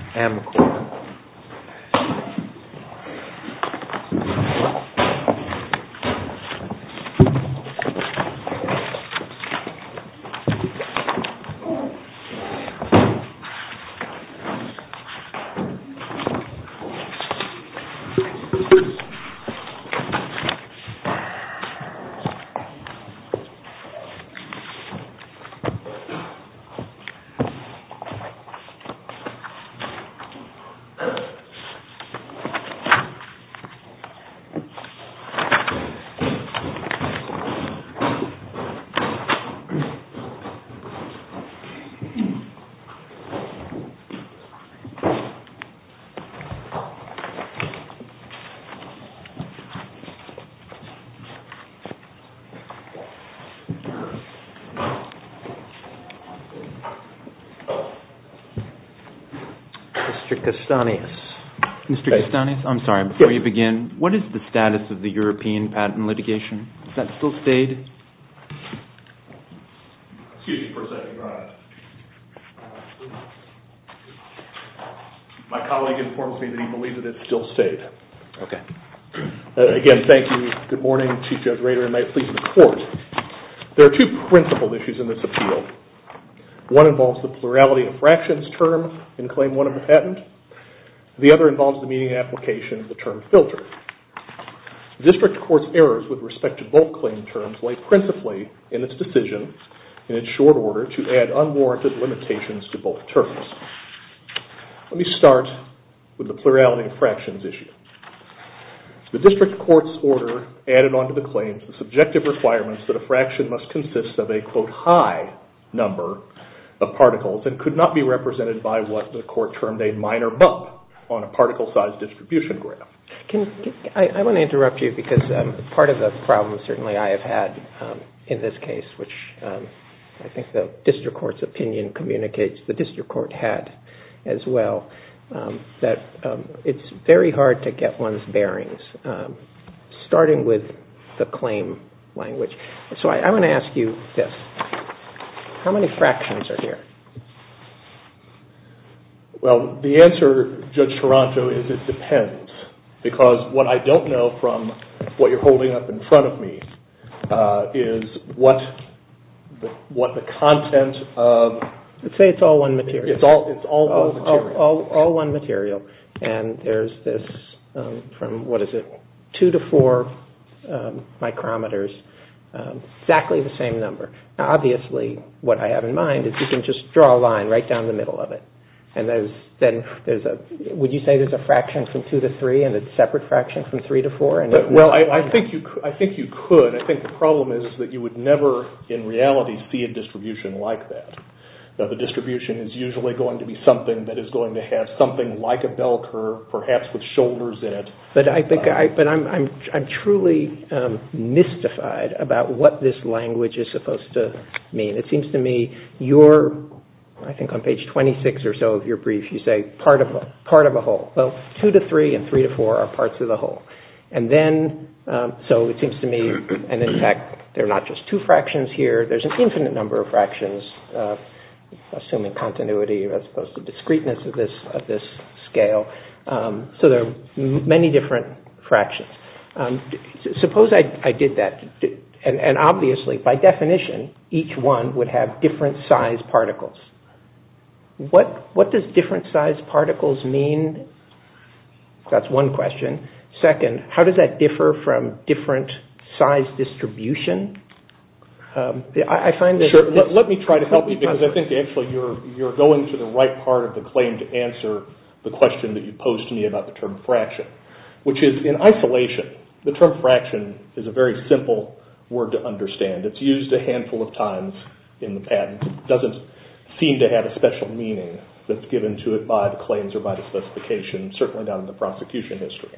Stopaq Amcorr Inc. Stopaq Amcorr Inc. Mr. Kastanis. Mr. Kastanis, I'm sorry, before you begin, what is the status of the European patent litigation? Has that still stayed? Excuse me for a second, Your Honor. My colleague informs me that he believes that it still stayed. Okay. Again, thank you. Good morning. Chief Judge Rader, and may it please the Court. There are two principled issues in this appeal. One involves the plurality of fractions term in Claim 1 of the patent. The other involves the meaning and application of the term filter. District Court's errors with respect to both claim terms lay principally in its decision, in its short order, to add unwarranted limitations to both terms. Let me start with the plurality of fractions issue. The District Court's order added onto the claims the subjective requirements that a fraction must consist of a, quote, high number of particles and could not be represented by what the Court termed a minor bump on a particle size distribution graph. I want to interrupt you because part of the problem, certainly, I have had in this case, which I think the District Court's opinion communicates, the District Court had as well, starting with the claim language. So I want to ask you this. How many fractions are here? Well, the answer, Judge Taranto, is it depends. Because what I don't know from what you're holding up in front of me is what the content of... Let's say it's all one material. It's all one material. And there's this from, what is it, two to four micrometers, exactly the same number. Obviously, what I have in mind is you can just draw a line right down the middle of it. And then would you say there's a fraction from two to three and a separate fraction from three to four? Well, I think you could. I think the problem is that you would never, in reality, see a distribution like that. The distribution is usually going to be something that is going to have something like a bell curve, perhaps with shoulders in it. But I'm truly mystified about what this language is supposed to mean. It seems to me you're, I think on page 26 or so of your brief, you say part of a whole. Well, two to three and three to four are parts of the whole. And then, so it seems to me, and in fact, they're not just two fractions here. There's an infinite number of fractions, assuming continuity as opposed to discreteness of this scale. So there are many different fractions. Suppose I did that. And obviously, by definition, each one would have different size particles. What does different size particles mean? That's one question. Second, how does that differ from different size distribution? Let me try to help you because I think actually you're going to the right part of the claim to answer the question that you posed to me about the term fraction, which is in isolation, the term fraction is a very simple word to understand. It's used a handful of times in the patent. It doesn't seem to have a special meaning that's given to it by the claims or by the specification, certainly not in the prosecution history.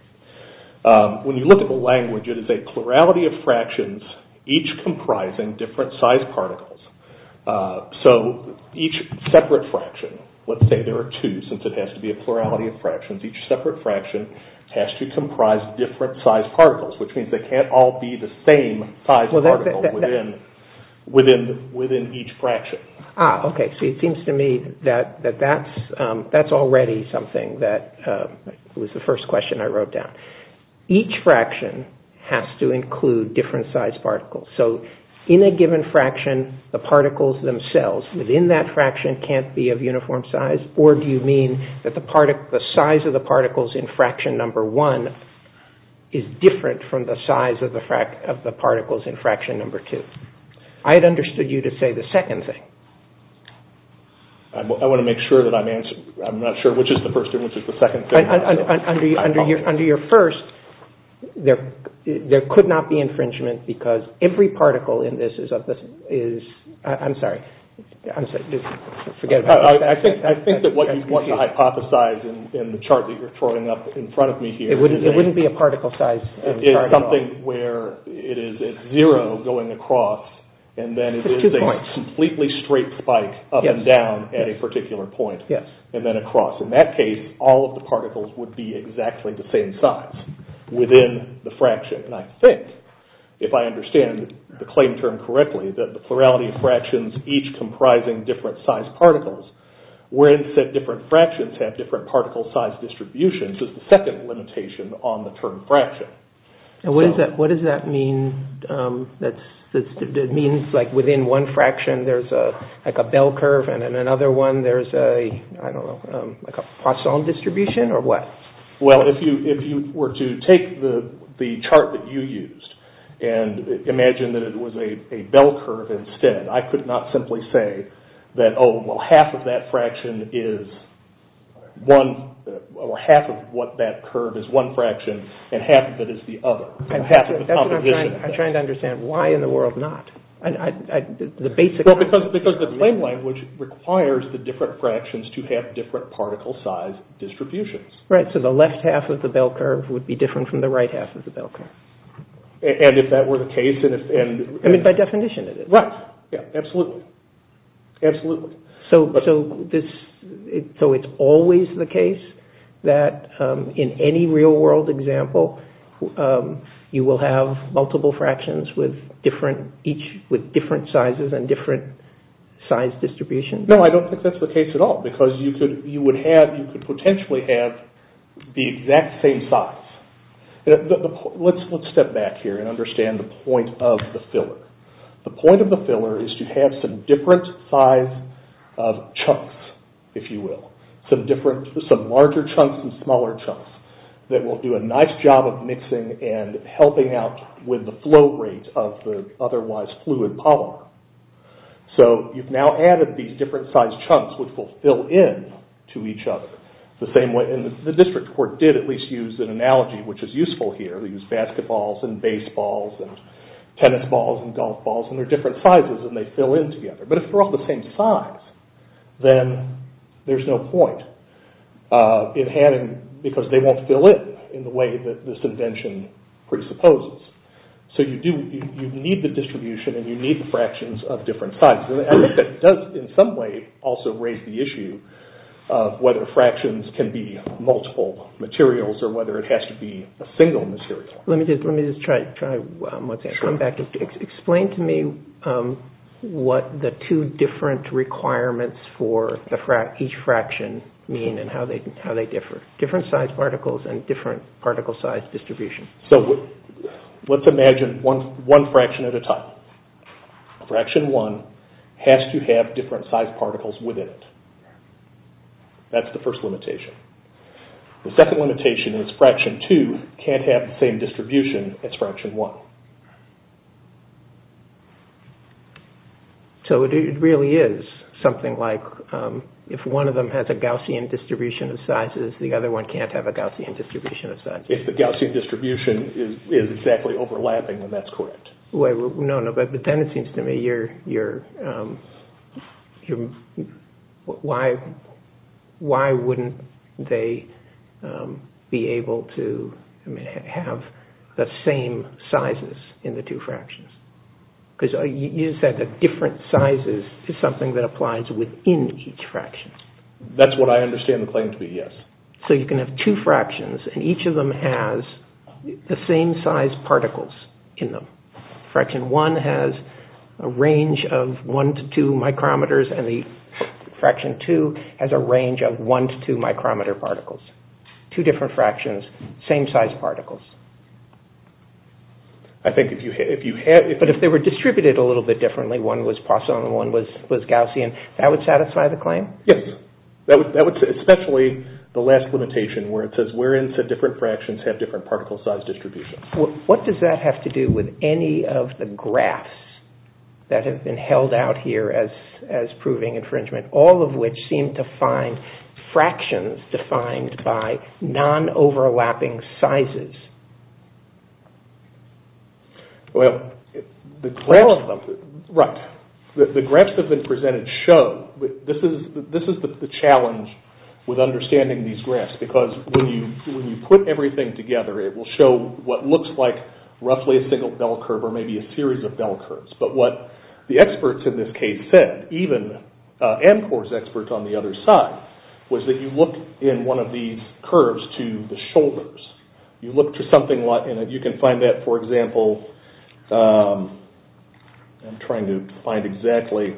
When you look at the language, it is a plurality of fractions, each comprising different size particles. So each separate fraction, let's say there are two since it has to be a plurality of fractions, each separate fraction has to comprise different size particles, which means they can't all be the same size particle within each fraction. Okay, so it seems to me that that's already something that was the first question I wrote down. Each fraction has to include different size particles. So in a given fraction, the particles themselves within that fraction can't be of uniform size, or do you mean that the size of the particles in fraction number one is different from the size of the particles in fraction number two? I had understood you to say the second thing. I want to make sure that I'm not sure which is the first and which is the second thing. Under your first, there could not be infringement because every particle in this is of the, I'm sorry, forget about that. I think that what you want to hypothesize in the chart that you're throwing up in front of me here It wouldn't be a particle size chart at all. Something where it is at zero going across and then it is a completely straight spike up and down at a particular point and then across. In that case, all of the particles would be exactly the same size within the fraction. And I think, if I understand the claim term correctly, that the plurality of fractions each comprising different size particles wherein said different fractions have different particle size distributions is the second limitation on the term fraction. And what does that mean? It means like within one fraction there's like a bell curve and in another one there's a, I don't know, like a Poisson distribution or what? Well, if you were to take the chart that you used and imagine that it was a bell curve instead, I could not simply say that, oh, well, half of that fraction is one, or half of what that curve is one fraction and half of it is the other. I'm trying to understand why in the world not? Well, because the blame language requires the different fractions to have different particle size distributions. Right, so the left half of the bell curve would be different from the right half of the bell curve. And if that were the case, and if... I mean, by definition it is. Right, absolutely, absolutely. So it's always the case that in any real world example you will have multiple fractions with different sizes and different size distributions? No, I don't think that's the case at all because you could potentially have the exact same size. Let's step back here and understand the point of the filler. The point of the filler is to have some different size chunks, if you will, some larger chunks and smaller chunks that will do a nice job of mixing and helping out with the flow rate of the otherwise fluid polymer. So you've now added these different size chunks which will fill in to each other. The district court did at least use an analogy which is useful here. They use basketballs and baseballs and tennis balls and golf balls and they're different sizes and they fill in together. But if they're all the same size, then there's no point in adding because they won't fill in in the way that this invention presupposes. So you need the distribution and you need the fractions of different sizes. I think that does in some way also raise the issue of whether fractions can be multiple materials or whether it has to be a single material. Let me just try once again. Come back and explain to me what the two different requirements for each fraction mean and how they differ, different size particles and different particle size distribution. So let's imagine one fraction at a time. Fraction one has to have different size particles within it. That's the first limitation. The second limitation is fraction two can't have the same distribution as fraction one. So it really is something like if one of them has a Gaussian distribution of sizes, the other one can't have a Gaussian distribution of sizes. If the Gaussian distribution is exactly overlapping, then that's correct. But then it seems to me, why wouldn't they be able to have the same sizes in the two fractions? Because you said that different sizes is something that applies within each fraction. That's what I understand the claim to be, yes. So you can have two fractions and each of them has the same size particles in them. Fraction one has a range of one to two micrometers and the fraction two has a range of one to two micrometer particles. Two different fractions, same size particles. But if they were distributed a little bit differently, one was Poisson and one was Gaussian, that would satisfy the claim? Yes. That would, especially the last limitation where it says where in said different fractions have different particle size distributions. What does that have to do with any of the graphs that have been held out here as proving infringement, all of which seem to find fractions defined by non-overlapping sizes? Right. The graphs that have been presented show, this is the challenge with understanding these graphs because when you put everything together, it will show what looks like roughly a single bell curve or maybe a series of bell curves. But what the experts in this case said, even AMCOR's experts on the other side, was that you look in one of these curves to the shoulders. You look to something and you can find that, for example, I'm trying to find exactly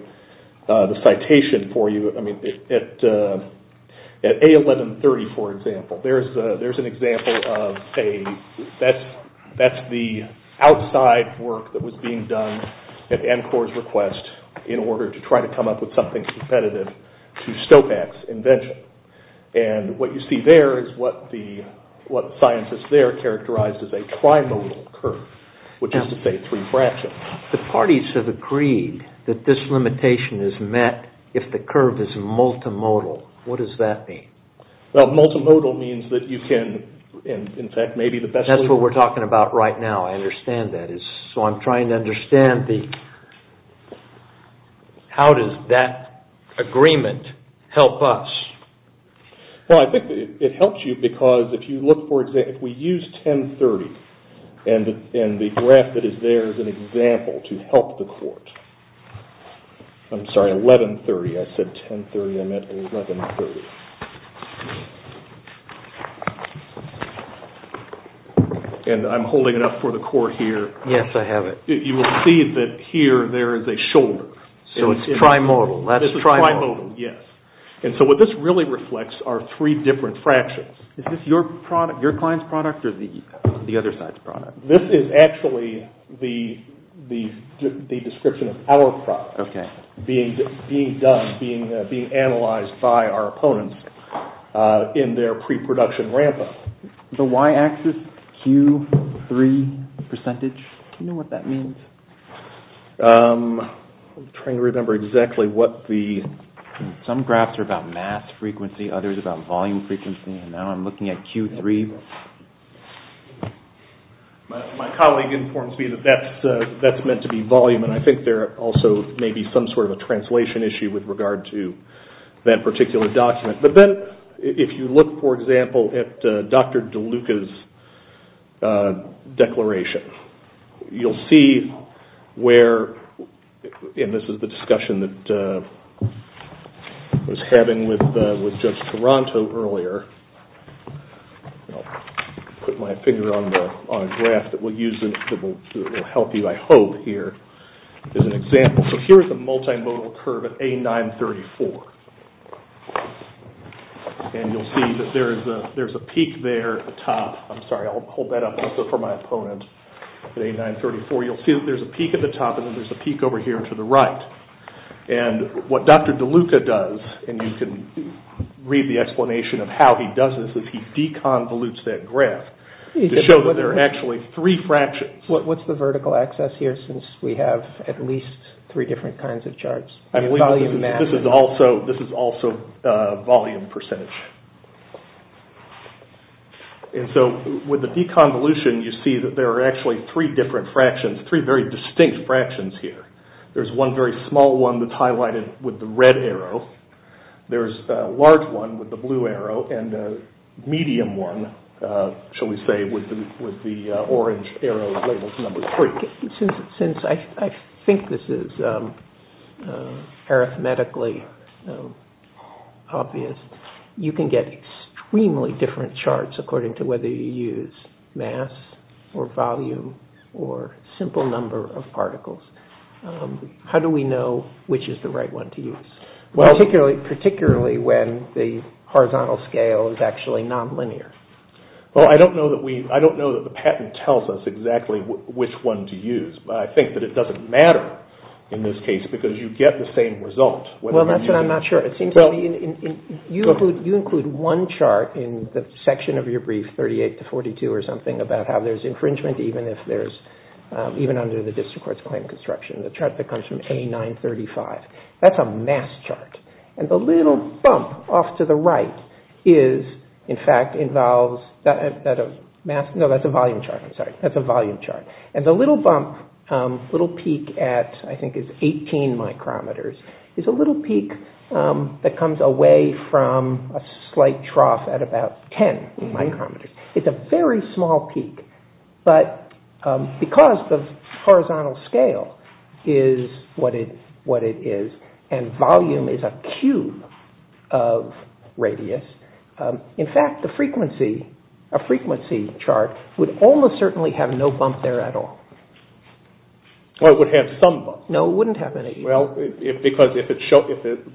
the citation for you. At A1130, for example, there's an example of a, that's the outside work that was being done at AMCOR's request in order to try to come up with something competitive to STOPAX invention. And what you see there is what scientists there characterized as a trimodal curve, which is to say three fractions. The parties have agreed that this limitation is met if the curve is multimodal. What does that mean? Well, multimodal means that you can, in fact, maybe the best... That's what we're talking about right now. I understand that. So I'm trying to understand the... How does that agreement help us? Well, I think it helps you because if you look for example, if we use 1030 and the graph that is there is an example to help the court. I'm sorry, 1130. I said 1030. I meant 1130. And I'm holding it up for the court here. Yes, I have it. You will see that here there is a shoulder. So it's trimodal. This is trimodal, yes. And so what this really reflects are three different fractions. Is this your product, your client's product or the... The other side's product. This is actually the description of our product being done, being analyzed by our opponents in their pre-production ramp-up. The y-axis, Q3 percentage, do you know what that means? I'm trying to remember exactly what the... Some graphs are about mass frequency, others about volume frequency. And now I'm looking at Q3. My colleague informs me that that's meant to be volume. And I think there also may be some sort of a translation issue with regard to that particular document. But then if you look, for example, at Dr. DeLuca's declaration, you'll see where... And this is the discussion that I was having with Judge Toronto earlier. I'll put my finger on a graph that will help you, I hope, here. As an example, so here's a multimodal curve at A934. And you'll see that there's a peak there at the top. I'm sorry, I'll hold that up just for my opponent. At A934, you'll see that there's a peak at the top and then there's a peak over here to the right. And what Dr. DeLuca does, and you can read the explanation of how he does this, is he deconvolutes that graph to show that there are actually three fractions. What's the vertical axis here since we have at least three different kinds of charts? This is also volume percentage. And so with the deconvolution, you see that there are actually three different fractions, three very distinct fractions here. There's one very small one that's highlighted with the red arrow. There's a large one with the blue arrow and a medium one, shall we say, with the orange arrow labeled numbers. Since I think this is arithmetically obvious, you can get extremely different charts according to whether you use mass or volume or simple number of particles. How do we know which is the right one to use, particularly when the horizontal scale is actually nonlinear? Well, I don't know that the patent tells us exactly which one to use, but I think that it doesn't matter in this case because you get the same result. Well, that's what I'm not sure. It seems to me you include one chart in the section of your brief, 38 to 42 or something, about how there's infringement even under the District Court's claim of construction, the chart that comes from A935. That's a mass chart. And the little bump off to the right is, in fact, involves that of mass. No, that's a volume chart. I'm sorry. That's a volume chart. And the little bump, little peak at I think is 18 micrometers, is a little peak that comes away from a slight trough at about 10 micrometers. It's a very small peak, but because the horizontal scale is what it is and volume is a cube of radius, in fact, a frequency chart would almost certainly have no bump there at all. Well, it would have some bump. No, it wouldn't have any. Well, because if it shows,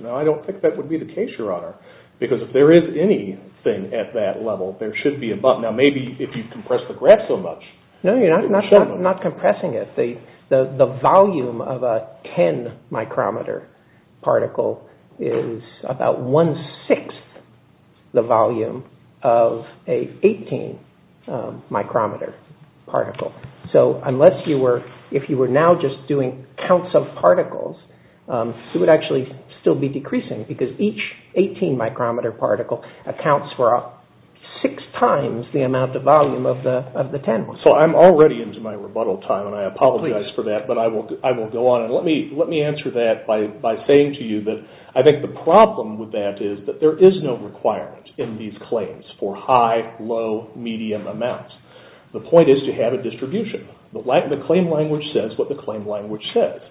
I don't think that would be the case, Your Honor, because if there is anything at that level, there should be a bump. Now, maybe if you compress the graph so much. No, you're not compressing it. The volume of a 10-micrometer particle is about one-sixth the volume of a 18-micrometer particle. So unless you were, if you were now just doing counts of particles, it would actually still be decreasing because each 18-micrometer particle accounts for six times the amount of volume of the 10. So I'm already into my rebuttal time, and I apologize for that, but I will go on. Let me answer that by saying to you that I think the problem with that is that there is no requirement in these claims for high, low, medium amounts. The point is to have a distribution. The claim language says what the claim language says,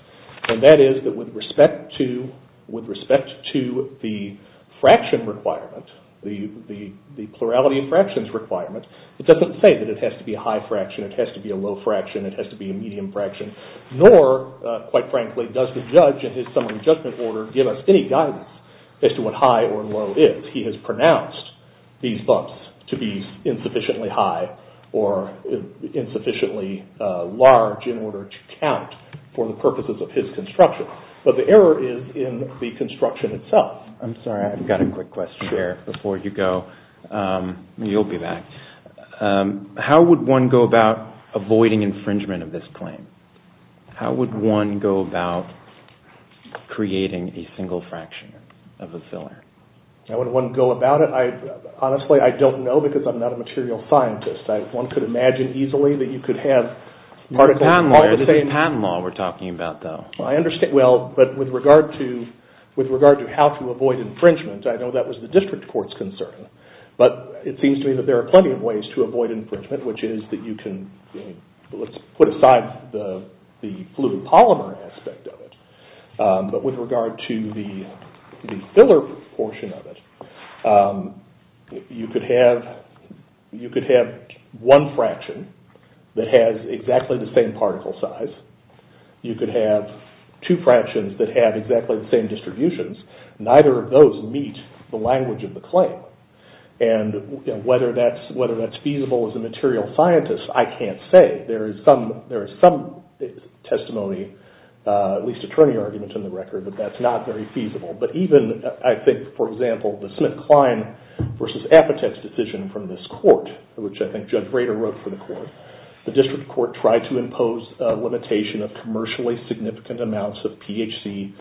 and that is that with respect to the fraction requirement, the plurality of fractions requirement, it doesn't say that it has to be a high fraction, it has to be a low fraction, it has to be a medium fraction, nor, quite frankly, does the judge in his summary judgment order give us any guidance as to what high or low is. He has pronounced these bumps to be insufficiently high or insufficiently large in order to count for the purposes of his construction. But the error is in the construction itself. I'm sorry, I've got a quick question there before you go. You'll be back. How would one go about avoiding infringement of this claim? How would one go about creating a single fraction of a filler? How would one go about it? Honestly, I don't know because I'm not a material scientist. One could imagine easily that you could have articles... It's patent law we're talking about, though. I understand. Well, but with regard to how to avoid infringement, I know that was the district court's concern. But it seems to me that there are plenty of ways to avoid infringement, which is that you can... Let's put aside the fluid polymer aspect of it. But with regard to the filler portion of it, you could have one fraction that has exactly the same particle size. You could have two fractions that have exactly the same distributions. Neither of those meet the language of the claim. And whether that's feasible as a material scientist, I can't say. There is some testimony, at least attorney arguments on the record, that that's not very feasible. But even, I think, for example, the Smith-Klein versus Apotex decision from this court, which I think Judge Rader wrote for the court, the district court tried to impose a limitation of commercially significant amounts of PHC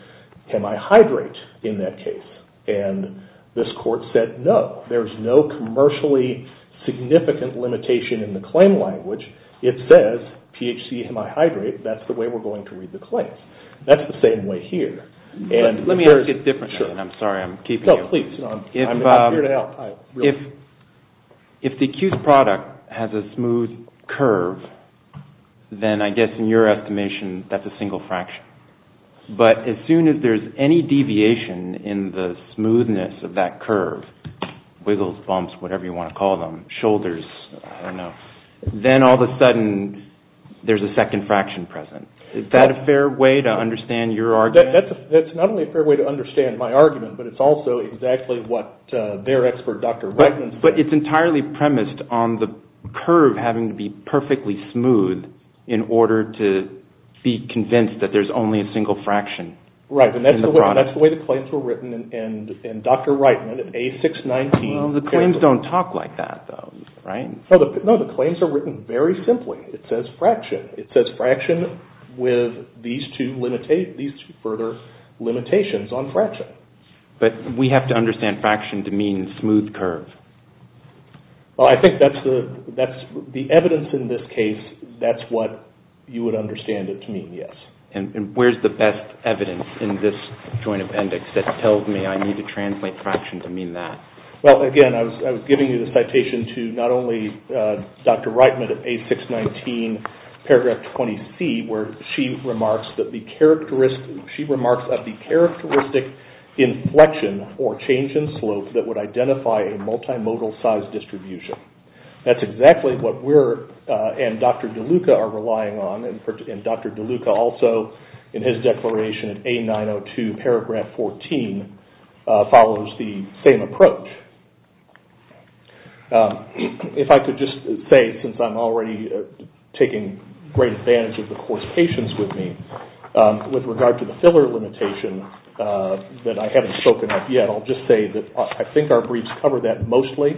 hemihydrate in that case. And this court said, no, there's no commercially significant limitation in the claim language. It says, PHC hemihydrate, that's the way we're going to read the claim. That's the same way here. Let me ask a different question. I'm sorry, I'm keeping you. No, please. I'm here to help. If the accused product has a smooth curve, then I guess in your estimation, that's a single fraction. But as soon as there's any deviation in the smoothness of that curve, wiggles, bumps, whatever you want to call them, shoulders, I don't know, then all of a sudden, there's a second fraction present. Is that a fair way to understand your argument? That's not only a fair way to understand my argument, but it's also exactly what their expert, Dr. Reitman, said. But it's entirely premised on the curve having to be perfectly smooth in order to be convinced that there's only a single fraction. Right, and that's the way the claims were written in Dr. Reitman, in A619. The claims don't talk like that, though, right? No, the claims are written very simply. It says fraction. It says fraction with these two further limitations on fraction. But we have to understand fraction to mean smooth curve. Well, I think the evidence in this case, that's what you would understand it to mean, yes. And where's the best evidence in this joint appendix that tells me I need to translate fraction to mean that? Well, again, I was giving you the citation to not only Dr. Reitman of A619, paragraph 20C, where she remarks that the characteristic inflection or change in slope that would identify a multimodal size distribution. That's exactly what we're, and Dr. DeLuca, are relying on. And Dr. DeLuca also, in his declaration in A902, paragraph 14, follows the same approach. If I could just say, since I'm already taking great advantage of the court's patience with me, with regard to the filler limitation, that I haven't spoken of yet, I'll just say that I think our briefs cover that mostly.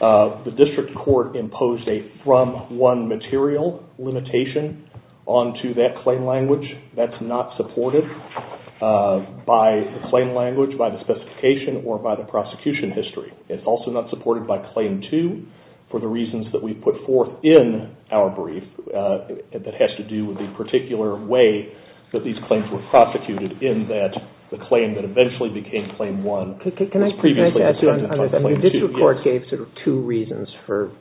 The district court imposed a from one material limitation onto that claim language. That's not supported by the claim language, by the specification, or by the prosecution history. It's also not supported by claim two for the reasons that we put forth in our brief that has to do with the particular way that these claims were prosecuted, in that the claim that eventually became claim one was previously inspected on claim two. Can I add to that? The district court gave sort of two reasons for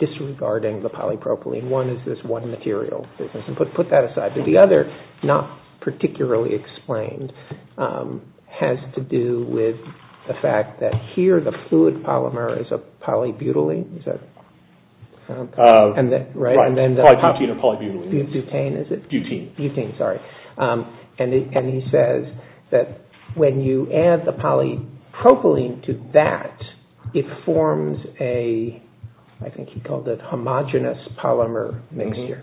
disregarding the polypropylene. One is this one material. Put that aside. But the other, not particularly explained, has to do with the fact that here, the fluid polymer is a polybutylene. Right, polybutene or polybutylene. Butene, is it? Butene. Butene, sorry. And he says that when you add the polypropylene to that, it forms a, I think he called it, homogeneous polymer mixture.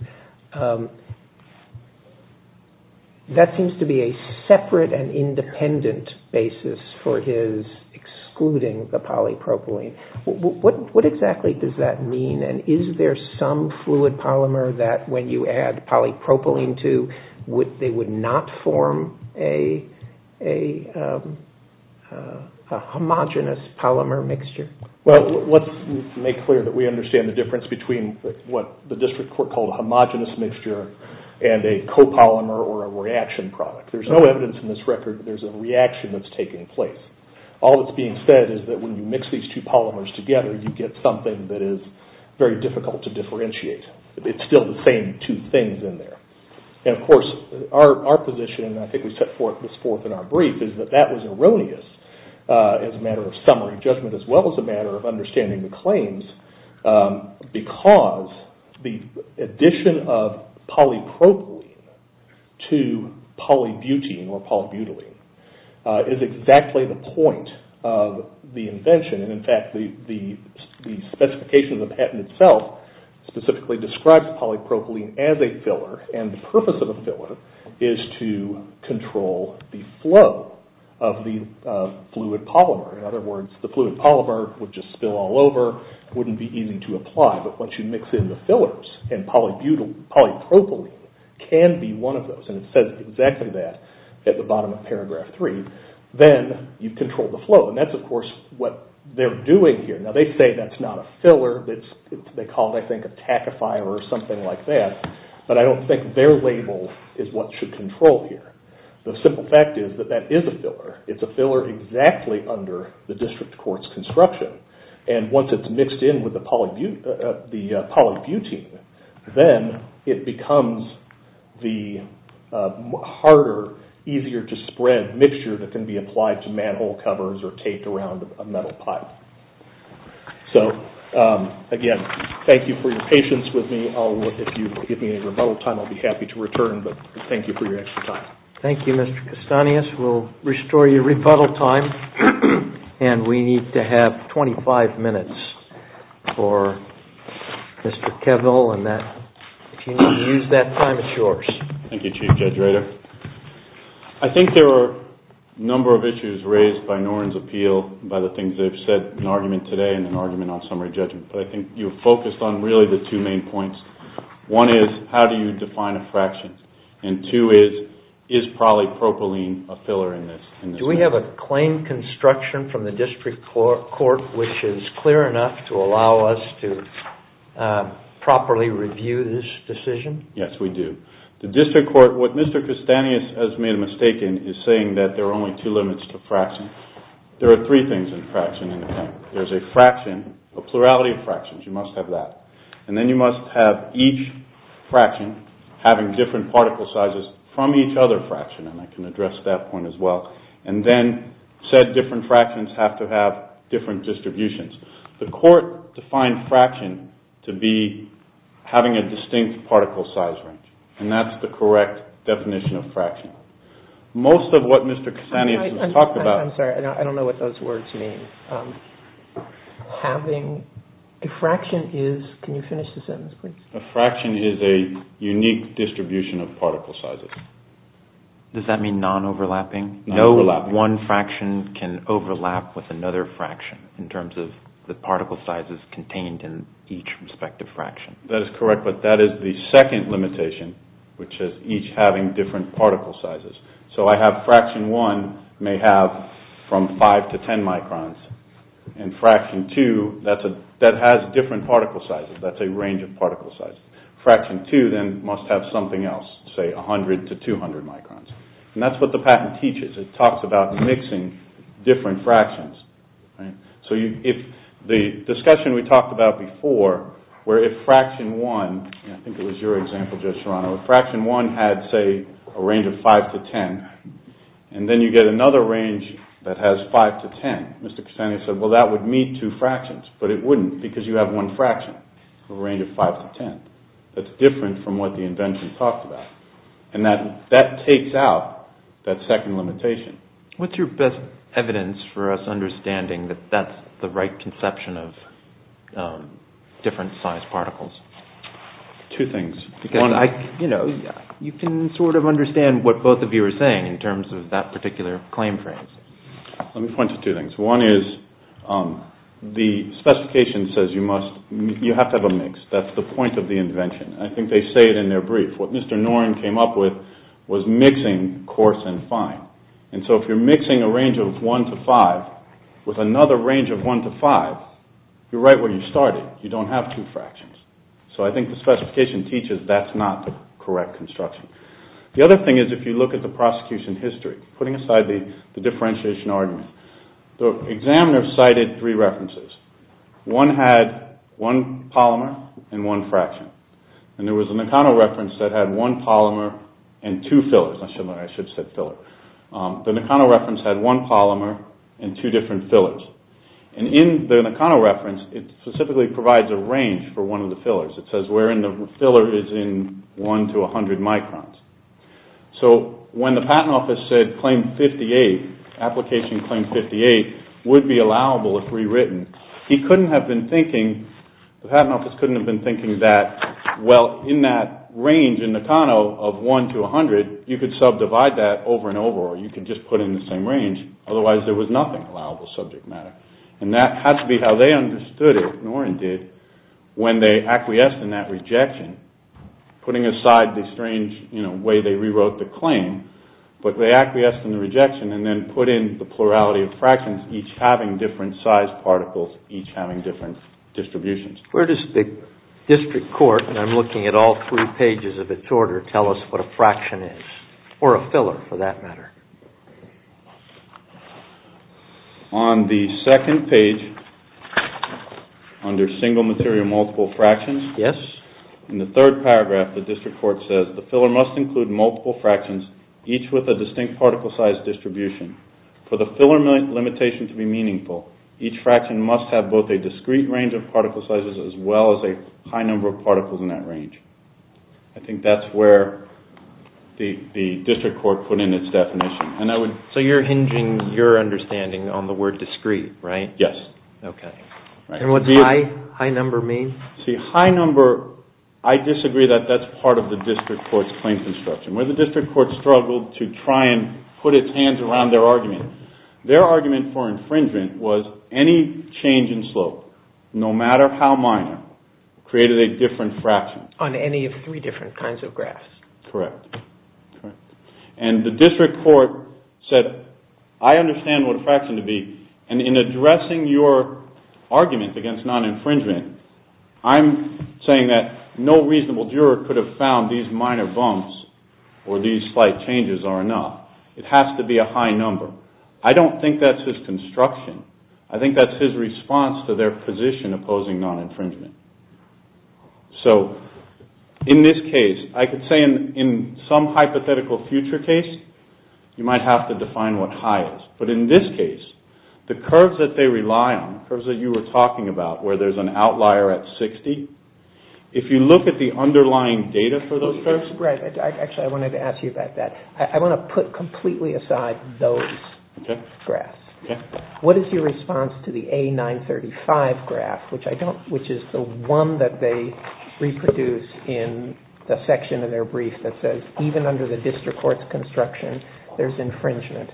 That seems to be a separate and independent basis for his excluding the polypropylene. What exactly does that mean? And is there some fluid polymer that when you add polypropylene to, they would not form a homogeneous polymer mixture? Well, let's make clear that we understand the difference between what the district court called a homogeneous mixture and a copolymer or a reaction product. There's no evidence in this record that there's a reaction that's taking place. All that's being said is that when you mix these two polymers together, you get something that is very difficult to differentiate. It's still the same two things in there. And of course, our position, and I think we set forth this forth in our brief, is that that was erroneous as a matter of summary judgment as well as a matter of understanding the claims because the addition of polypropylene to polybutene or polybutylene is exactly the point of the invention. And in fact, the specification of the patent itself specifically describes polypropylene as a filler. And the purpose of a filler is to control the flow of the fluid polymer. In other words, the fluid polymer would just spill all over. It wouldn't be easy to apply. But once you mix in the fillers, and polypropylene can be one of those, and it says exactly that at the bottom of paragraph three, then you control the flow. And that's, of course, what they're doing here. Now, they say that's not a filler. They call it, I think, a tachifier or something like that. But I don't think their label is what should control here. The simple fact is that that is a filler. It's a filler exactly under the district court's construction. And once it's mixed in with the polybutene, then it becomes the harder, easier to spread mixture that can be applied to manhole covers or taped around a metal pipe. So again, thank you for your patience with me. If you give me a rebuttal time, I'll be happy to return. But thank you for your extra time. Thank you, Mr. Castanhas. We'll restore your rebuttal time. And we need to have 25 minutes for Mr. Kevil. And if you need to use that time, it's yours. Thank you, Chief Judge Rader. I think there are a number of issues raised by Noren's appeal by the things they've said in argument today and in argument on summary judgment. But I think you've focused on really the two main points. One is, how do you define a fraction? And two is, is polypropylene a filler in this? Do we have a claim construction from the district court which is clear enough to allow us to properly review this decision? Yes, we do. The district court, what Mr. Castanhas has made a mistake in is saying that there are only two limits to fraction. There are three things in fraction. There's a fraction, a plurality of fractions. You must have that. And then you must have each fraction having different particle sizes from each other fraction. And I can address that point as well. And then said different fractions have to have different distributions. The court defined fraction to be having a distinct particle size range. And that's the correct definition of fraction. Most of what Mr. Castanhas has talked about. I'm sorry, I don't know what those words mean. Having a fraction is, can you finish the sentence please? A fraction is a unique distribution of particle sizes. Does that mean non-overlapping? Non-overlapping. No one fraction can overlap with another fraction in terms of the particle sizes contained in each respective fraction. That is correct, but that is the second limitation, which is each having different particle sizes. So I have fraction one may have from 5 to 10 microns. And fraction two, that has different particle sizes. That's a range of particle sizes. Fraction two then must have something else, say 100 to 200 microns. And that's what the patent teaches. It talks about mixing different fractions. So the discussion we talked about before, where if fraction one, I think it was your example, Judge Serrano, if fraction one had, say, a range of 5 to 10, and then you get another range that has 5 to 10, Mr. Castanhas said, well, that would meet two fractions. But it wouldn't because you have one fraction with a range of 5 to 10. That's different from what the invention talked about. And that takes out that second limitation. What's your best evidence for us understanding that that's the right conception of different sized particles? Two things. You can sort of understand what both of you are saying in terms of that particular claim frame. Let me point to two things. One is the specification says you have to have a mix. That's the point of the invention. I think they say it in their brief. What Mr. Noren came up with was mixing coarse and fine. And so if you're mixing a range of 1 to 5 with another range of 1 to 5, you're right where you started. You don't have two fractions. So I think the specification teaches that's not the correct construction. The other thing is if you look at the prosecution history, putting aside the differentiation argument, the examiner cited three references. One had one polymer and one fraction. And there was a Nakano reference that had one polymer and two fillers. I should have said filler. The Nakano reference had one polymer and two different fillers. And in the Nakano reference, it specifically provides a range for one of the fillers. It says wherein the filler is in 1 to 100 microns. So when the patent office said claim 58, application claim 58 would be allowable if rewritten, he couldn't have been thinking, the patent office couldn't have been thinking that, well, in that range in Nakano of 1 to 100, you could subdivide that over and over or you could just put in the same range. Otherwise, there was nothing allowable subject matter. And that had to be how they understood it, Noren did, when they acquiesced in that rejection, putting aside the strange way they rewrote the claim. But they acquiesced in the rejection and then put in the plurality of fractions, each having different size particles, each having different distributions. Where does the district court, and I'm looking at all three pages of its order, tell us what a fraction is? Or a filler, for that matter. On the second page, under single material multiple fractions, in the third paragraph, the district court says, the filler must include multiple fractions, each with a distinct particle size distribution. For the filler limitation to be meaningful, each fraction must have both a discrete range of particle sizes as well as a high number of particles in that range. I think that's where the district court put in its definition. So you're hinging your understanding on the word discrete, right? Yes. Okay. And what does high number mean? See, high number, I disagree that that's part of the district court's claim construction. Where the district court struggled to try and put its hands around their argument. Their argument for infringement was any change in slope, no matter how minor, created a different fraction. On any of three different kinds of graphs. Correct. And the district court said, I understand what a fraction would be, and in addressing your argument against non-infringement, I'm saying that no reasonable juror could have found these minor bumps or these slight changes are enough. It has to be a high number. I don't think that's his construction. I think that's his response to their position opposing non-infringement. So in this case, I could say in some hypothetical future case, you might have to define what high is. But in this case, the curves that they rely on, curves that you were talking about, where there's an outlier at 60, if you look at the underlying data for those curves. Right. Actually, I wanted to ask you about that. I want to put completely aside those graphs. Okay. What is your response to the A935 graph, which is the one that they reproduce in the section of their brief that says, even under the district court's construction, there's infringement?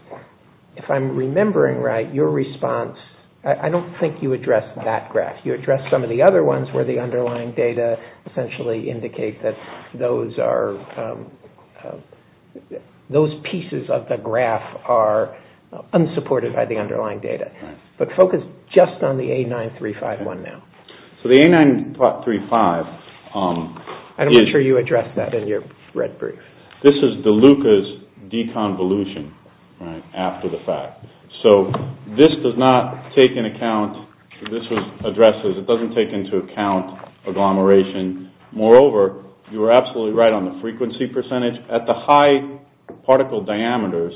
If I'm remembering right, your response, I don't think you addressed that graph. You addressed some of the other ones where the underlying data essentially indicate that those are, those pieces of the graph are unsupported by the underlying data. Right. But focus just on the A935 one now. So the A935 is- I'm not sure you addressed that in your red brief. This is DeLuca's deconvolution, right, after the fact. So this does not take into account, this addresses, it doesn't take into account agglomeration. Moreover, you are absolutely right on the frequency percentage. At the high particle diameters,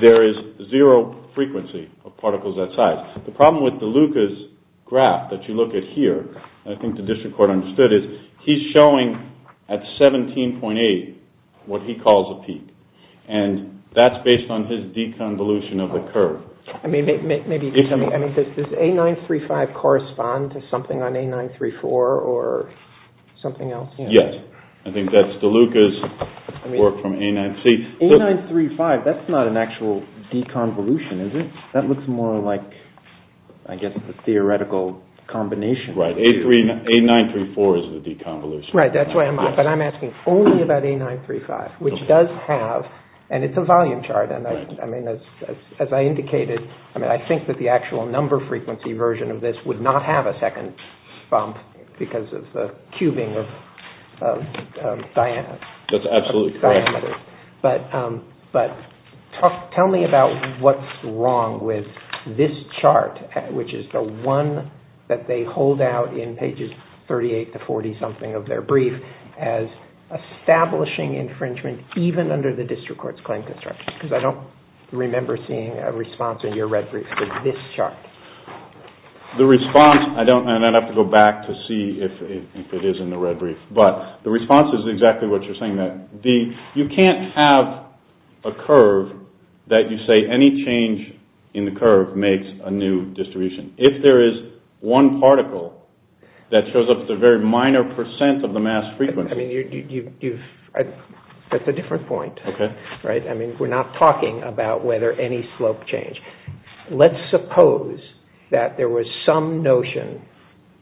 there is zero frequency of particles that size. The problem with DeLuca's graph that you look at here, I think the district court understood, is he's showing at 17.8 what he calls a peak. And that's based on his deconvolution of the curve. I mean, maybe you can tell me, does A935 correspond to something on A934 or something else? Yes. I think that's DeLuca's work from A9C. A935, that's not an actual deconvolution, is it? That looks more like, I guess, a theoretical combination. Right. A934 is the deconvolution. Right. That's why I'm asking only about A935, which does have, and it's a volume chart, as I indicated, I mean, I think that the actual number frequency version of this would not have a second bump because of the cubing of diameter. That's absolutely correct. But tell me about what's wrong with this chart, which is the one that they hold out in pages 38 to 40-something of their brief as establishing infringement, even under the district court's claim construction, because I don't remember seeing a response in your red brief to this chart. The response, and I'd have to go back to see if it is in the red brief, but the response is exactly what you're saying. You can't have a curve that you say any change in the curve makes a new distribution. If there is one particle that shows up at a very minor percent of the mass frequency. That's a different point. We're not talking about whether any slope change. Let's suppose that there was some notion,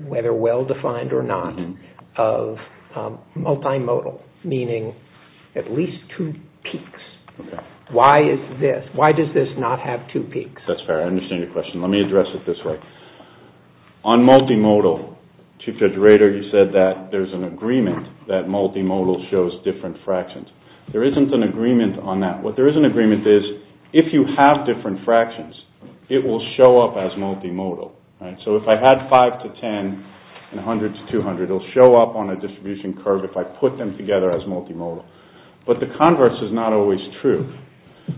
whether well-defined or not, of multimodal, meaning at least two peaks. Why does this not have two peaks? That's fair. I understand your question. Let me address it this way. On multimodal, Chief Judge Rader, you said that there's an agreement that multimodal shows different fractions. There isn't an agreement on that. What there is an agreement is, if you have different fractions, it will show up as multimodal. So if I had 5 to 10 and 100 to 200, it will show up on a distribution curve if I put them together as multimodal. But the converse is not always true.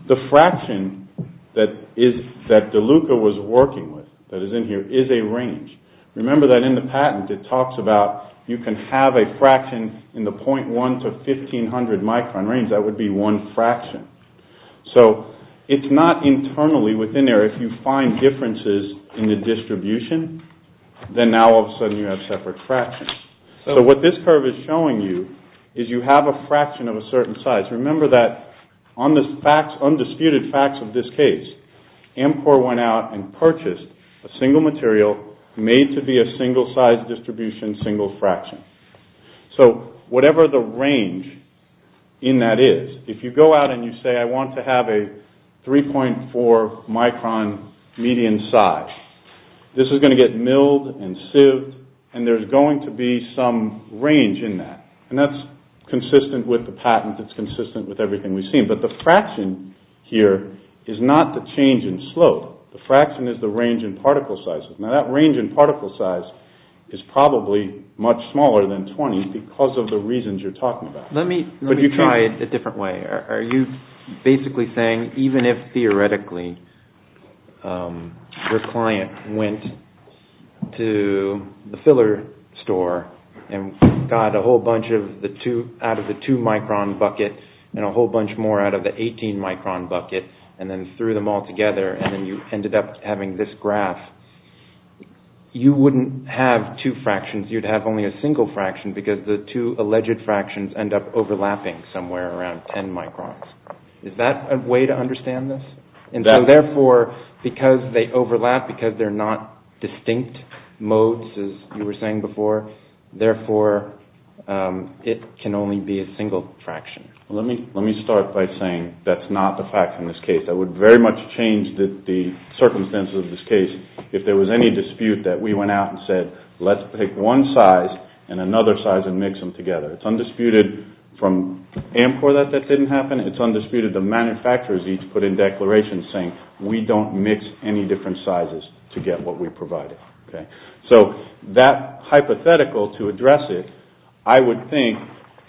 The fraction that DeLuca was working with, that is in here, is a range. Remember that in the patent it talks about you can have a fraction in the 0.1 to 1500 micron range. That would be one fraction. So it's not internally within there. If you find differences in the distribution, then now all of a sudden you have separate fractions. So what this curve is showing you is you have a fraction of a certain size. Remember that on the undisputed facts of this case, Amcor went out and purchased a single material made to be a single size distribution, single fraction. So whatever the range in that is, if you go out and you say, I want to have a 3.4 micron median size, this is going to get milled and sieved, and there's going to be some range in that. And that's consistent with the patent. It's consistent with everything we've seen. But the fraction here is not the change in slope. The fraction is the range in particle sizes. Now that range in particle size is probably much smaller than 20 because of the reasons you're talking about. Let me try it a different way. Are you basically saying, even if theoretically your client went to the filler store and got a whole bunch out of the 2 micron bucket and a whole bunch more out of the 18 micron bucket and then threw them all together and then you ended up having this graph, you wouldn't have two fractions. You'd have only a single fraction because the two alleged fractions end up overlapping somewhere around 10 microns. Is that a way to understand this? And so therefore, because they overlap, because they're not distinct modes, as you were saying before, therefore it can only be a single fraction. Let me start by saying that's not the fact in this case. I would very much change the circumstances of this case if there was any dispute that we went out and said, let's pick one size and another size and mix them together. It's undisputed from Amcor that that didn't happen. It's undisputed the manufacturers each put in declarations saying, we don't mix any different sizes to get what we provided. So that hypothetical to address it, I would think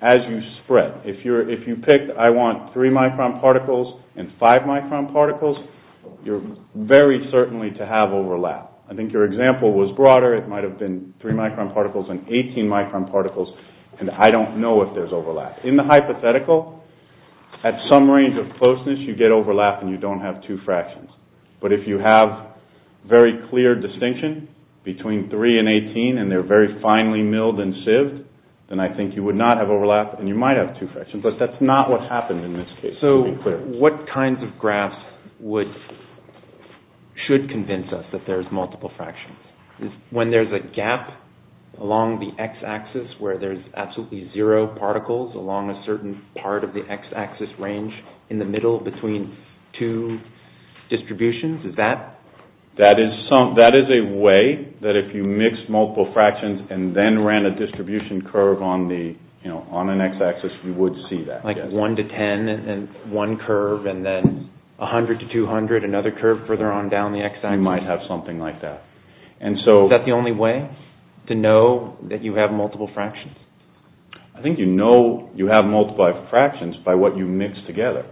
as you spread, if you picked I want 3 micron particles and 5 micron particles, you're very certainly to have overlap. I think your example was broader. It might have been 3 micron particles and 18 micron particles, and I don't know if there's overlap. In the hypothetical, at some range of closeness, you get overlap and you don't have two fractions. But if you have very clear distinction between 3 and 18 and they're very finely milled and sieved, then I think you would not have overlap and you might have two fractions. But that's not what happened in this case, to be clear. So what kinds of graphs should convince us that there's multiple fractions? When there's a gap along the x-axis where there's absolutely zero particles along a certain part of the x-axis range in the middle between two distributions, is that? That is a way that if you mix multiple fractions and then ran a distribution curve on an x-axis, you would see that. Like 1 to 10, one curve, and then 100 to 200, another curve further on down the x-axis. You might have something like that. Is that the only way to know that you have multiple fractions? I think you know you have multiple fractions by what you mix together.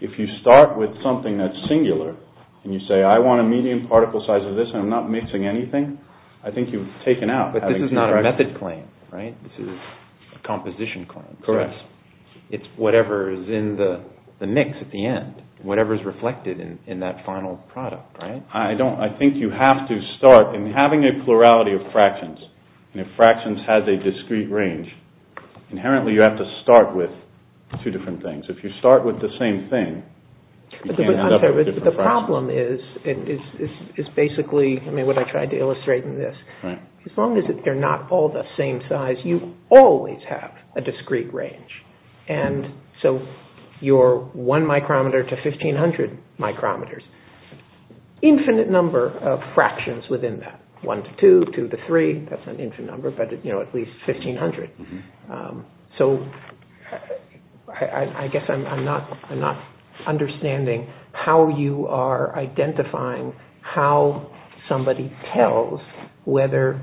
If you start with something that's singular and you say, I want a medium particle size of this and I'm not mixing anything, I think you've taken out having two fractions. But this is not a method claim, right? This is a composition claim. Correct. It's whatever is in the mix at the end, whatever is reflected in that final product, right? I think you have to start in having a plurality of fractions, and if fractions have a discrete range, inherently you have to start with two different things. If you start with the same thing, you can't end up with different fractions. The problem is basically what I tried to illustrate in this. As long as they're not all the same size, you always have a discrete range. And so your one micrometer to 1,500 micrometers, infinite number of fractions within that. One to two, two to three, that's an infinite number, but at least 1,500. So I guess I'm not understanding how you are identifying how somebody tells whether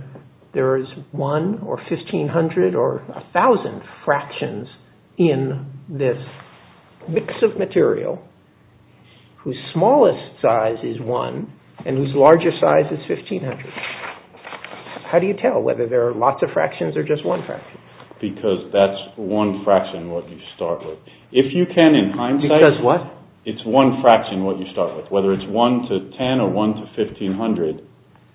there is one or 1,500 or 1,000 fractions in this mix of material whose smallest size is one and whose largest size is 1,500. How do you tell whether there are lots of fractions or just one fraction? Because that's one fraction what you start with. If you can in hindsight, it's one fraction what you start with. Whether it's one to 10 or one to 1,500,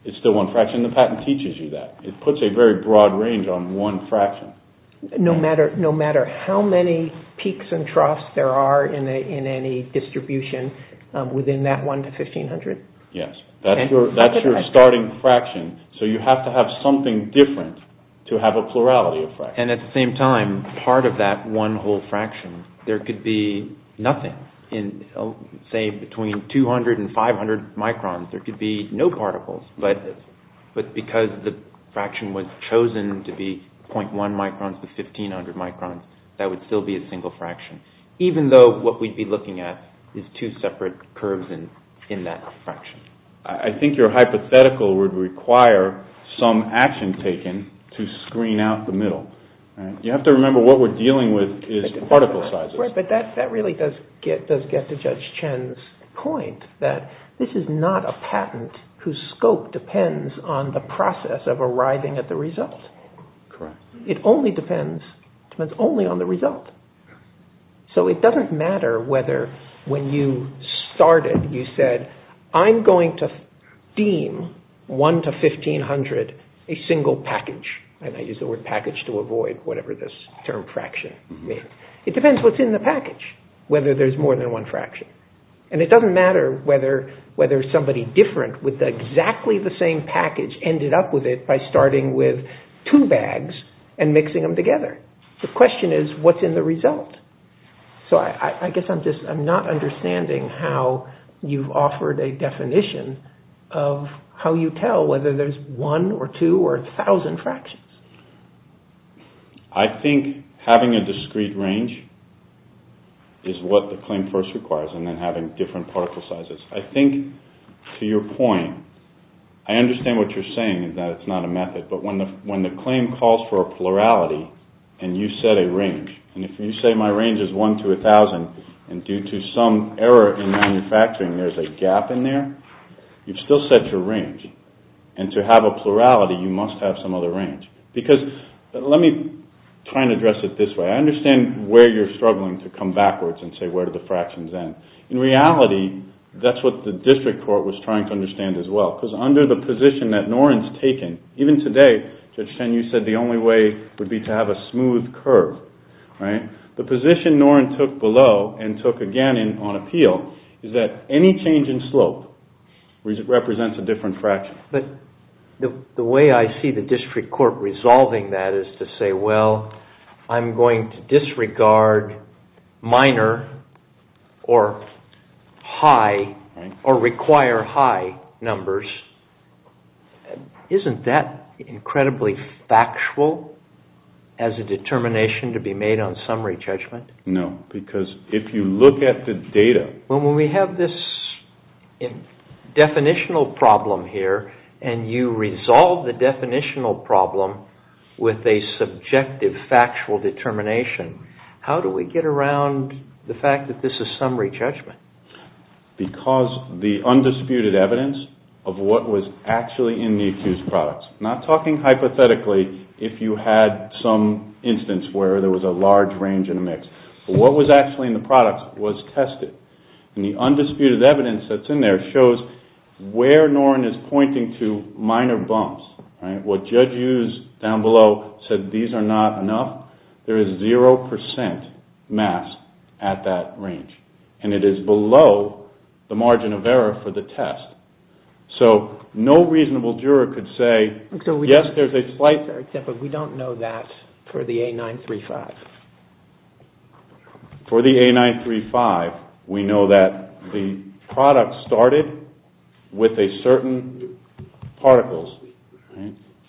it's still one fraction. The patent teaches you that. It puts a very broad range on one fraction. No matter how many peaks and troughs there are in any distribution within that one to 1,500? Yes, that's your starting fraction. So you have to have something different to have a plurality of fractions. And at the same time, part of that one whole fraction, there could be nothing. Say between 200 and 500 microns, there could be no particles. But because the fraction was chosen to be 0.1 microns to 1,500 microns, that would still be a single fraction. Even though what we'd be looking at is two separate curves in that fraction. I think your hypothetical would require some action taken to screen out the middle. You have to remember what we're dealing with is particle sizes. But that really does get to Judge Chen's point that this is not a patent whose scope depends on the process of arriving at the result. It only depends on the result. So it doesn't matter whether when you started, you said, I'm going to deem one to 1,500 a single package. And I use the word package to avoid whatever this term fraction means. It depends what's in the package, whether there's more than one fraction. And it doesn't matter whether somebody different with exactly the same package ended up with it by starting with two bags and mixing them together. The question is, what's in the result? So I guess I'm not understanding how you've offered a definition of how you tell whether there's one or two or a thousand fractions. I think having a discrete range is what the claim first requires and then having different particle sizes. I think to your point, I understand what you're saying that it's not a method. But when the claim calls for a plurality and you set a range, and if you say my range is one to a thousand, and due to some error in manufacturing, there's a gap in there, you've still set your range. And to have a plurality, you must have some other range. Because let me try and address it this way. I understand where you're struggling to come backwards and say, where do the fractions end? In reality, that's what the district court was trying to understand as well. Because under the position that Noren's taken, even today, Judge Chen, you said the only way would be to have a smooth curve. The position Noren took below and took again on appeal is that any change in slope represents a different fraction. But the way I see the district court resolving that is to say, well, I'm going to disregard minor or high or require high numbers. Isn't that incredibly factual as a determination to be made on summary judgment? No, because if you look at the data... Well, when we have this definitional problem here, and you resolve the definitional problem with a subjective factual determination, how do we get around the fact that this is summary judgment? Because the undisputed evidence of what was actually in the accused products, not talking hypothetically if you had some instance where there was a large range in the mix, but what was actually in the products was tested. And the undisputed evidence that's in there shows where Noren is pointing to minor bumps. What Judge Hughes down below said, these are not enough. There is 0% mass at that range. And it is below the margin of error for the test. So no reasonable juror could say, yes, there's a slight... Except that we don't know that for the A935. For the A935, we know that the product started with a certain particles,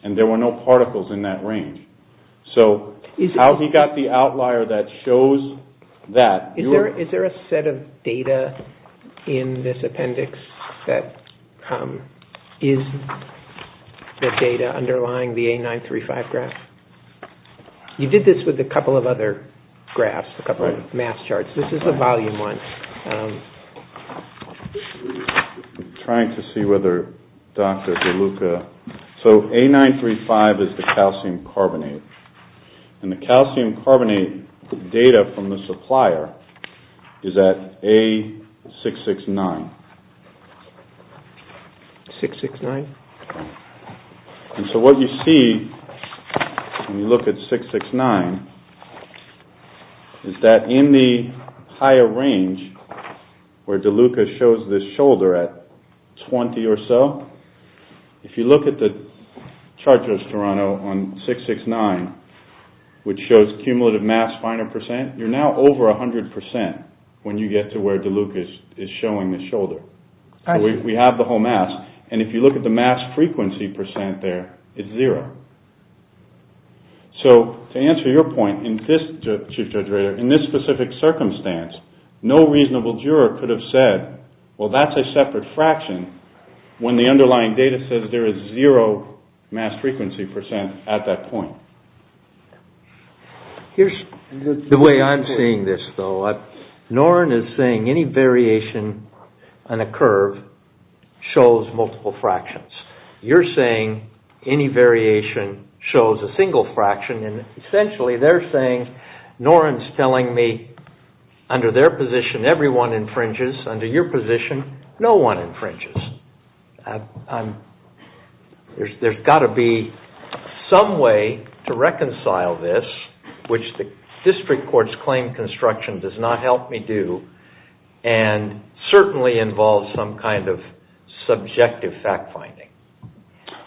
and there were no particles in that range. So how he got the outlier that shows that... Is there a set of data in this appendix that is the data underlying the A935 graph? You did this with a couple of other graphs, a couple of mass charts. This is a volume one. I'm trying to see whether Dr. DeLuca... So A935 is the calcium carbonate. And the calcium carbonate data from the supplier is at A669. 669? And so what you see when you look at 669 is that in the higher range where DeLuca shows this shoulder at 20 or so, if you look at the chart just to run on 669, which shows cumulative mass 500%, you're now over 100% when you get to where DeLuca is showing the shoulder. We have the whole mass. And if you look at the mass frequency percent there, it's zero. So to answer your point in this, Chief Judge Rader, in this specific circumstance, no reasonable juror could have said, well, that's a separate fraction when the underlying data says there is zero mass frequency percent at that point. Here's the way I'm seeing this, though. Norrin is saying any variation on a curve shows multiple fractions. You're saying any variation shows a single fraction. And essentially they're saying, Norrin's telling me under their position, everyone infringes. Under your position, no one infringes. There's got to be some way to reconcile this, which the district courts claim construction does not help me do and certainly involves some kind of subjective fact-finding.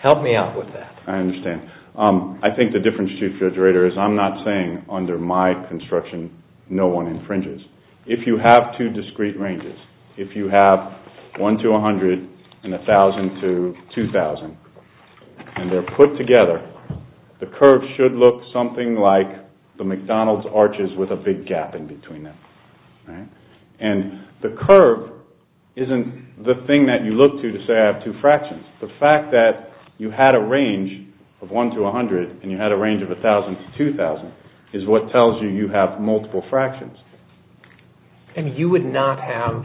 Help me out with that. I understand. I think the difference, Chief Judge Rader, is I'm not saying under my construction no one infringes. If you have two discrete ranges, if you have 1 to 100 and 1,000 to 2,000, and they're put together, the curve should look something like the McDonald's arches with a big gap in between them. And the curve isn't the thing that you look to to say I have two fractions. The fact that you had a range of 1 to 100 and you had a range of 1,000 to 2,000 is what tells you you have multiple fractions. And you would not have,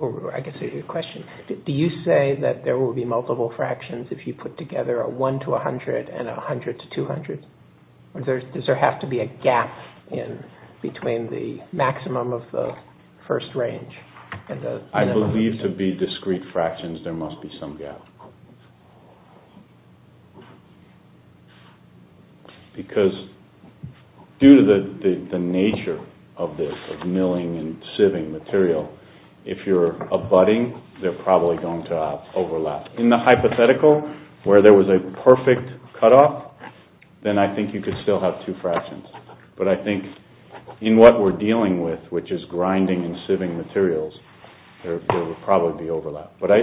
or I can see your question, do you say that there will be multiple fractions if you put together a 1 to 100 and a 100 to 200? Does there have to be a gap between the maximum of the first range and the minimum? I believe to be discrete fractions there must be some gap. Because due to the nature of this, of milling and sieving material, if you're abutting, they're probably going to overlap. In the hypothetical, where there was a perfect cutoff, then I think you could still have two fractions. But I think in what we're dealing with, which is grinding and sieving materials, there would probably be overlap. But I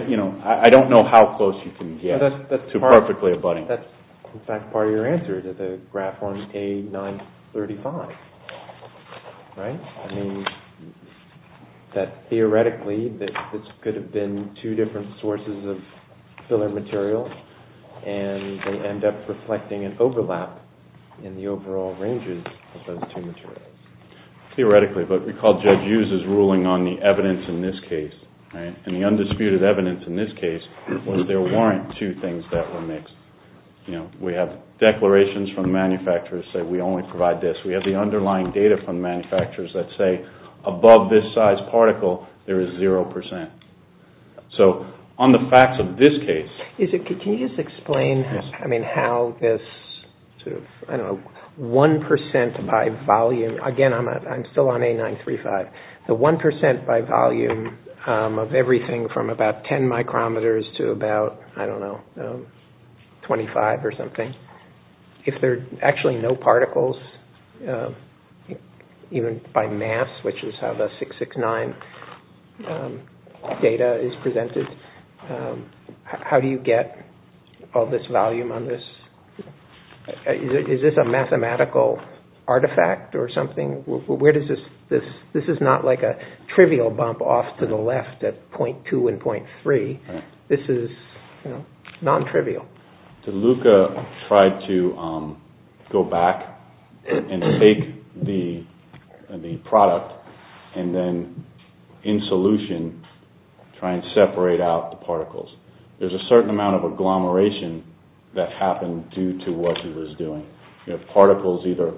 don't know how close you can get to perfectly abutting. That's, in fact, part of your answer to the graph on A935, right? I mean, theoretically, this could have been two different sources of filler material, and they end up reflecting an overlap in the overall ranges of those two materials. Theoretically, but recall Judge Hughes' ruling on the evidence in this case, right? And the undisputed evidence in this case was there weren't two things that were mixed. You know, we have declarations from manufacturers that we only provide this. We have the underlying data from manufacturers that say above this size particle, there is 0%. So on the facts of this case... Can you just explain, I mean, how this sort of, I don't know, 1% by volume... Again, I'm still on A935. The 1% by volume of everything from about 10 micrometers to about, I don't know, 25 or something, if there are actually no particles, even by mass, which is how the 669 data is presented, how do you get all this volume on this? Is this a mathematical artifact or something? Where does this... This is not like a trivial bump off to the left at 0.2 and 0.3. This is non-trivial. DeLuca tried to go back and take the product and then, in solution, try and separate out the particles. There's a certain amount of agglomeration that happened due to what he was doing. Particles either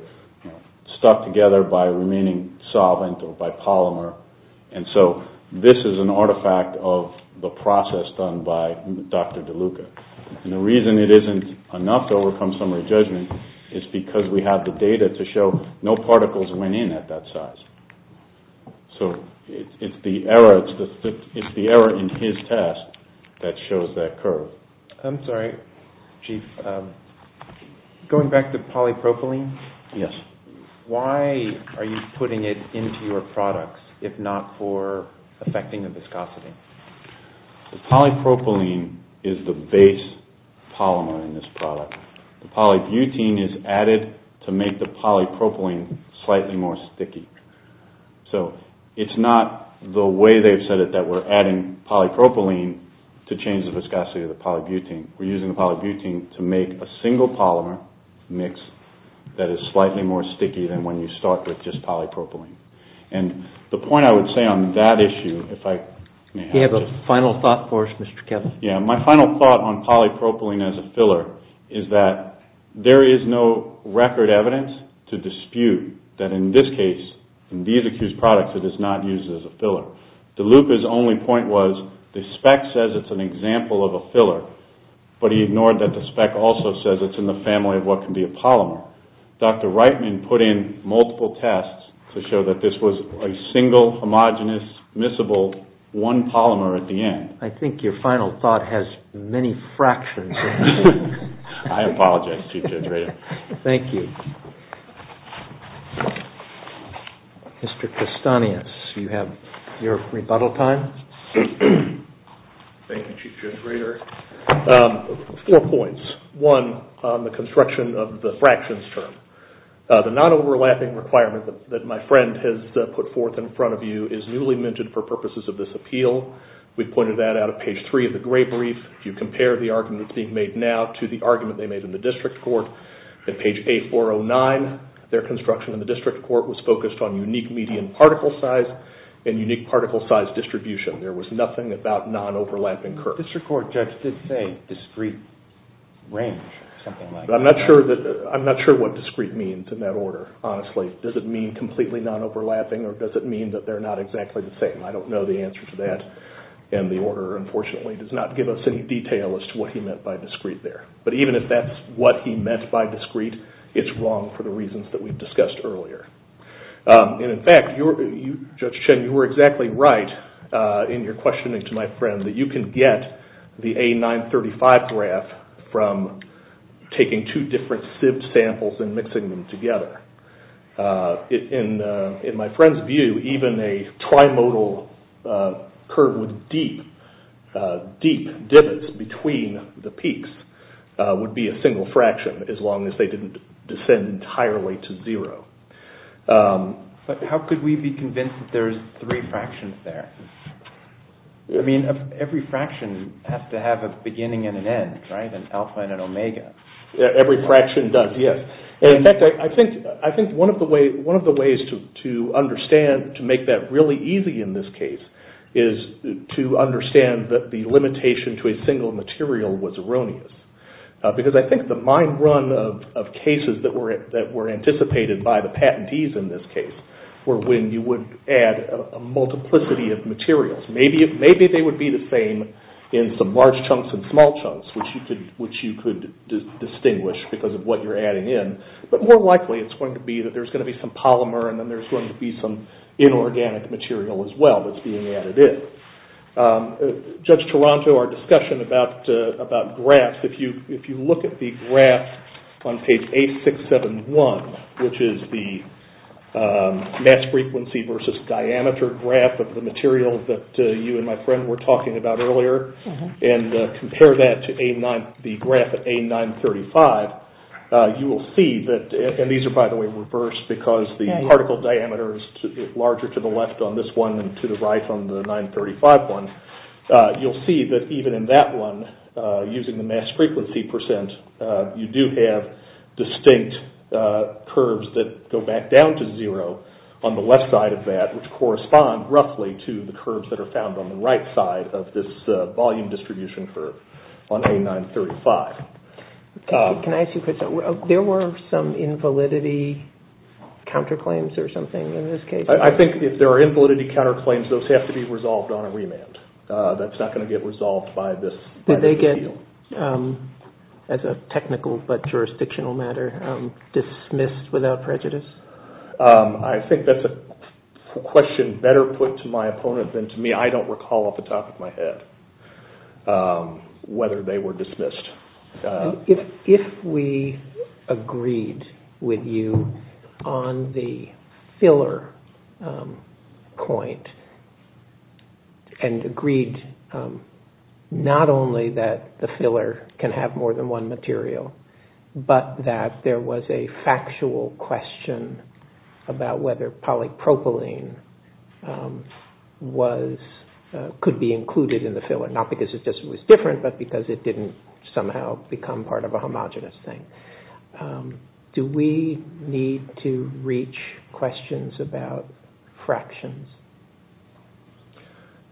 stuck together by remaining solvent or by polymer, and so this is an artifact of the process done by Dr. DeLuca. And the reason it isn't enough to overcome summary judgment is because we have the data to show no particles went in at that size. So it's the error in his test that shows that curve. I'm sorry, Chief. Going back to polypropylene... Yes. Why are you putting it into your products if not for affecting the viscosity? The polypropylene is the base polymer in this product. The polybutene is added to make the polypropylene slightly more sticky. So it's not the way they've said it that we're adding polypropylene to change the viscosity of the polybutene. We're using the polybutene to make a single polymer mix that is slightly more sticky than when you start with just polypropylene. And the point I would say on that issue, if I may have to... Do you have a final thought for us, Mr. Kevin? Yeah, my final thought on polypropylene as a filler is that there is no record evidence to dispute that in this case, in these accused products, it is not used as a filler. DeLuca's only point was the spec says it's an example of a filler, but he ignored that the spec also says it's in the family of what can be a polymer. Dr. Reitman put in multiple tests to show that this was a single, homogenous, miscible one polymer at the end. I think your final thought has many fractions in it. I apologize, Chief Judge Rader. Thank you. Mr. Castanis, you have your rebuttal time. Thank you, Chief Judge Rader. Four points. One, on the construction of the fractions term. The non-overlapping requirement that my friend has put forth in front of you is newly minted for purposes of this appeal. We've pointed that out at page three of the gray brief. If you compare the argument that's being made now to the argument they made in the district court, at page 8409, their construction in the district court was focused on unique median particle size and unique particle size distribution. There was nothing about non-overlapping curves. The district court judge did say discrete range or something like that. But I'm not sure what discrete means in that order, honestly. Does it mean completely non-overlapping or does it mean that they're not exactly the same? I don't know the answer to that. And the order, unfortunately, does not give us any detail as to what he meant by discrete there. But even if that's what he meant by discrete, it's wrong for the reasons that we've discussed earlier. And in fact, Judge Chen, you were exactly right in your questioning to my friend that you can get the A935 graph from taking two different sieved samples and mixing them together. In my friend's view, even a trimodal curve with deep, deep divots between the peaks would be a single fraction as long as they didn't descend entirely to zero. But how could we be convinced that there's three fractions there? I mean, every fraction has to have a beginning and an end, right? And alpha and an omega. Every fraction does, yes. In fact, I think one of the ways to understand, to make that really easy in this case, is to understand that the limitation to a single material was erroneous. Because I think the mind run of cases that were anticipated by the patentees in this case were when you would add a multiplicity of materials. Maybe they would be the same in some large chunks and small chunks, which you could distinguish because of what you're adding in. But more likely it's going to be that there's going to be some polymer and then there's going to be some inorganic material as well that's being added in. Judge Toronto, our discussion about graphs, if you look at the graph on page 8671, which is the mass frequency versus diameter graph of the material that you and my friend were talking about earlier, and compare that to the graph of A935, you will see that, and these are by the way reversed because the particle diameter is larger to the left on this one and to the right on the 935 one, you'll see that even in that one, using the mass frequency percent, you do have distinct curves that go back down to zero on the left side of that, which correspond roughly to the curves that are found on the right side of this volume distribution curve on A935. Can I ask you a question? There were some invalidity counterclaims or something in this case? I think if there are invalidity counterclaims, those have to be resolved on a remand. That's not going to get resolved by this appeal. Did they get, as a technical but jurisdictional matter, dismissed without prejudice? I think that's a question better put to my opponent than to me. I don't recall off the top of my head whether they were dismissed. If we agreed with you on the filler point and agreed not only that the filler can have more than one material, but that there was a factual question about whether polypropylene could be included in the filler. Not because it was different, but because it didn't somehow become part of a homogenous thing. Do we need to reach questions about fractions?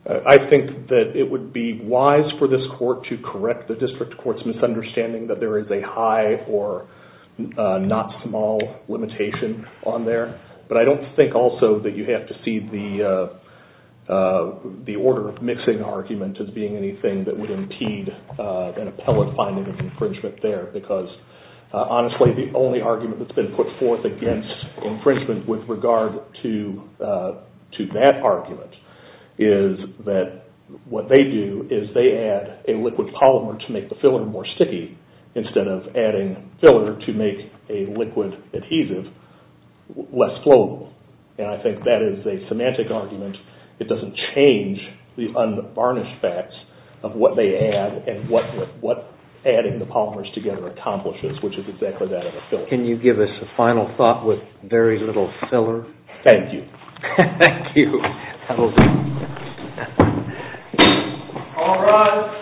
I think that it would be wise for this court to correct the district court's misunderstanding that there is a high or not small limitation on there. But I don't think also that you have to see the order of mixing argument as being anything that would impede an appellate finding of infringement there. Because, honestly, the only argument that's been put forth against infringement with regard to that argument is that what they do is they add a liquid polymer to make the filler more sticky instead of adding filler to make a liquid adhesive less flowable. And I think that is a semantic argument. It doesn't change the unvarnished facts of what they add and what adding the polymers together accomplishes, which is exactly that of a filler. Can you give us a final thought with very little filler? Thank you. Thank you. That'll do. All rise.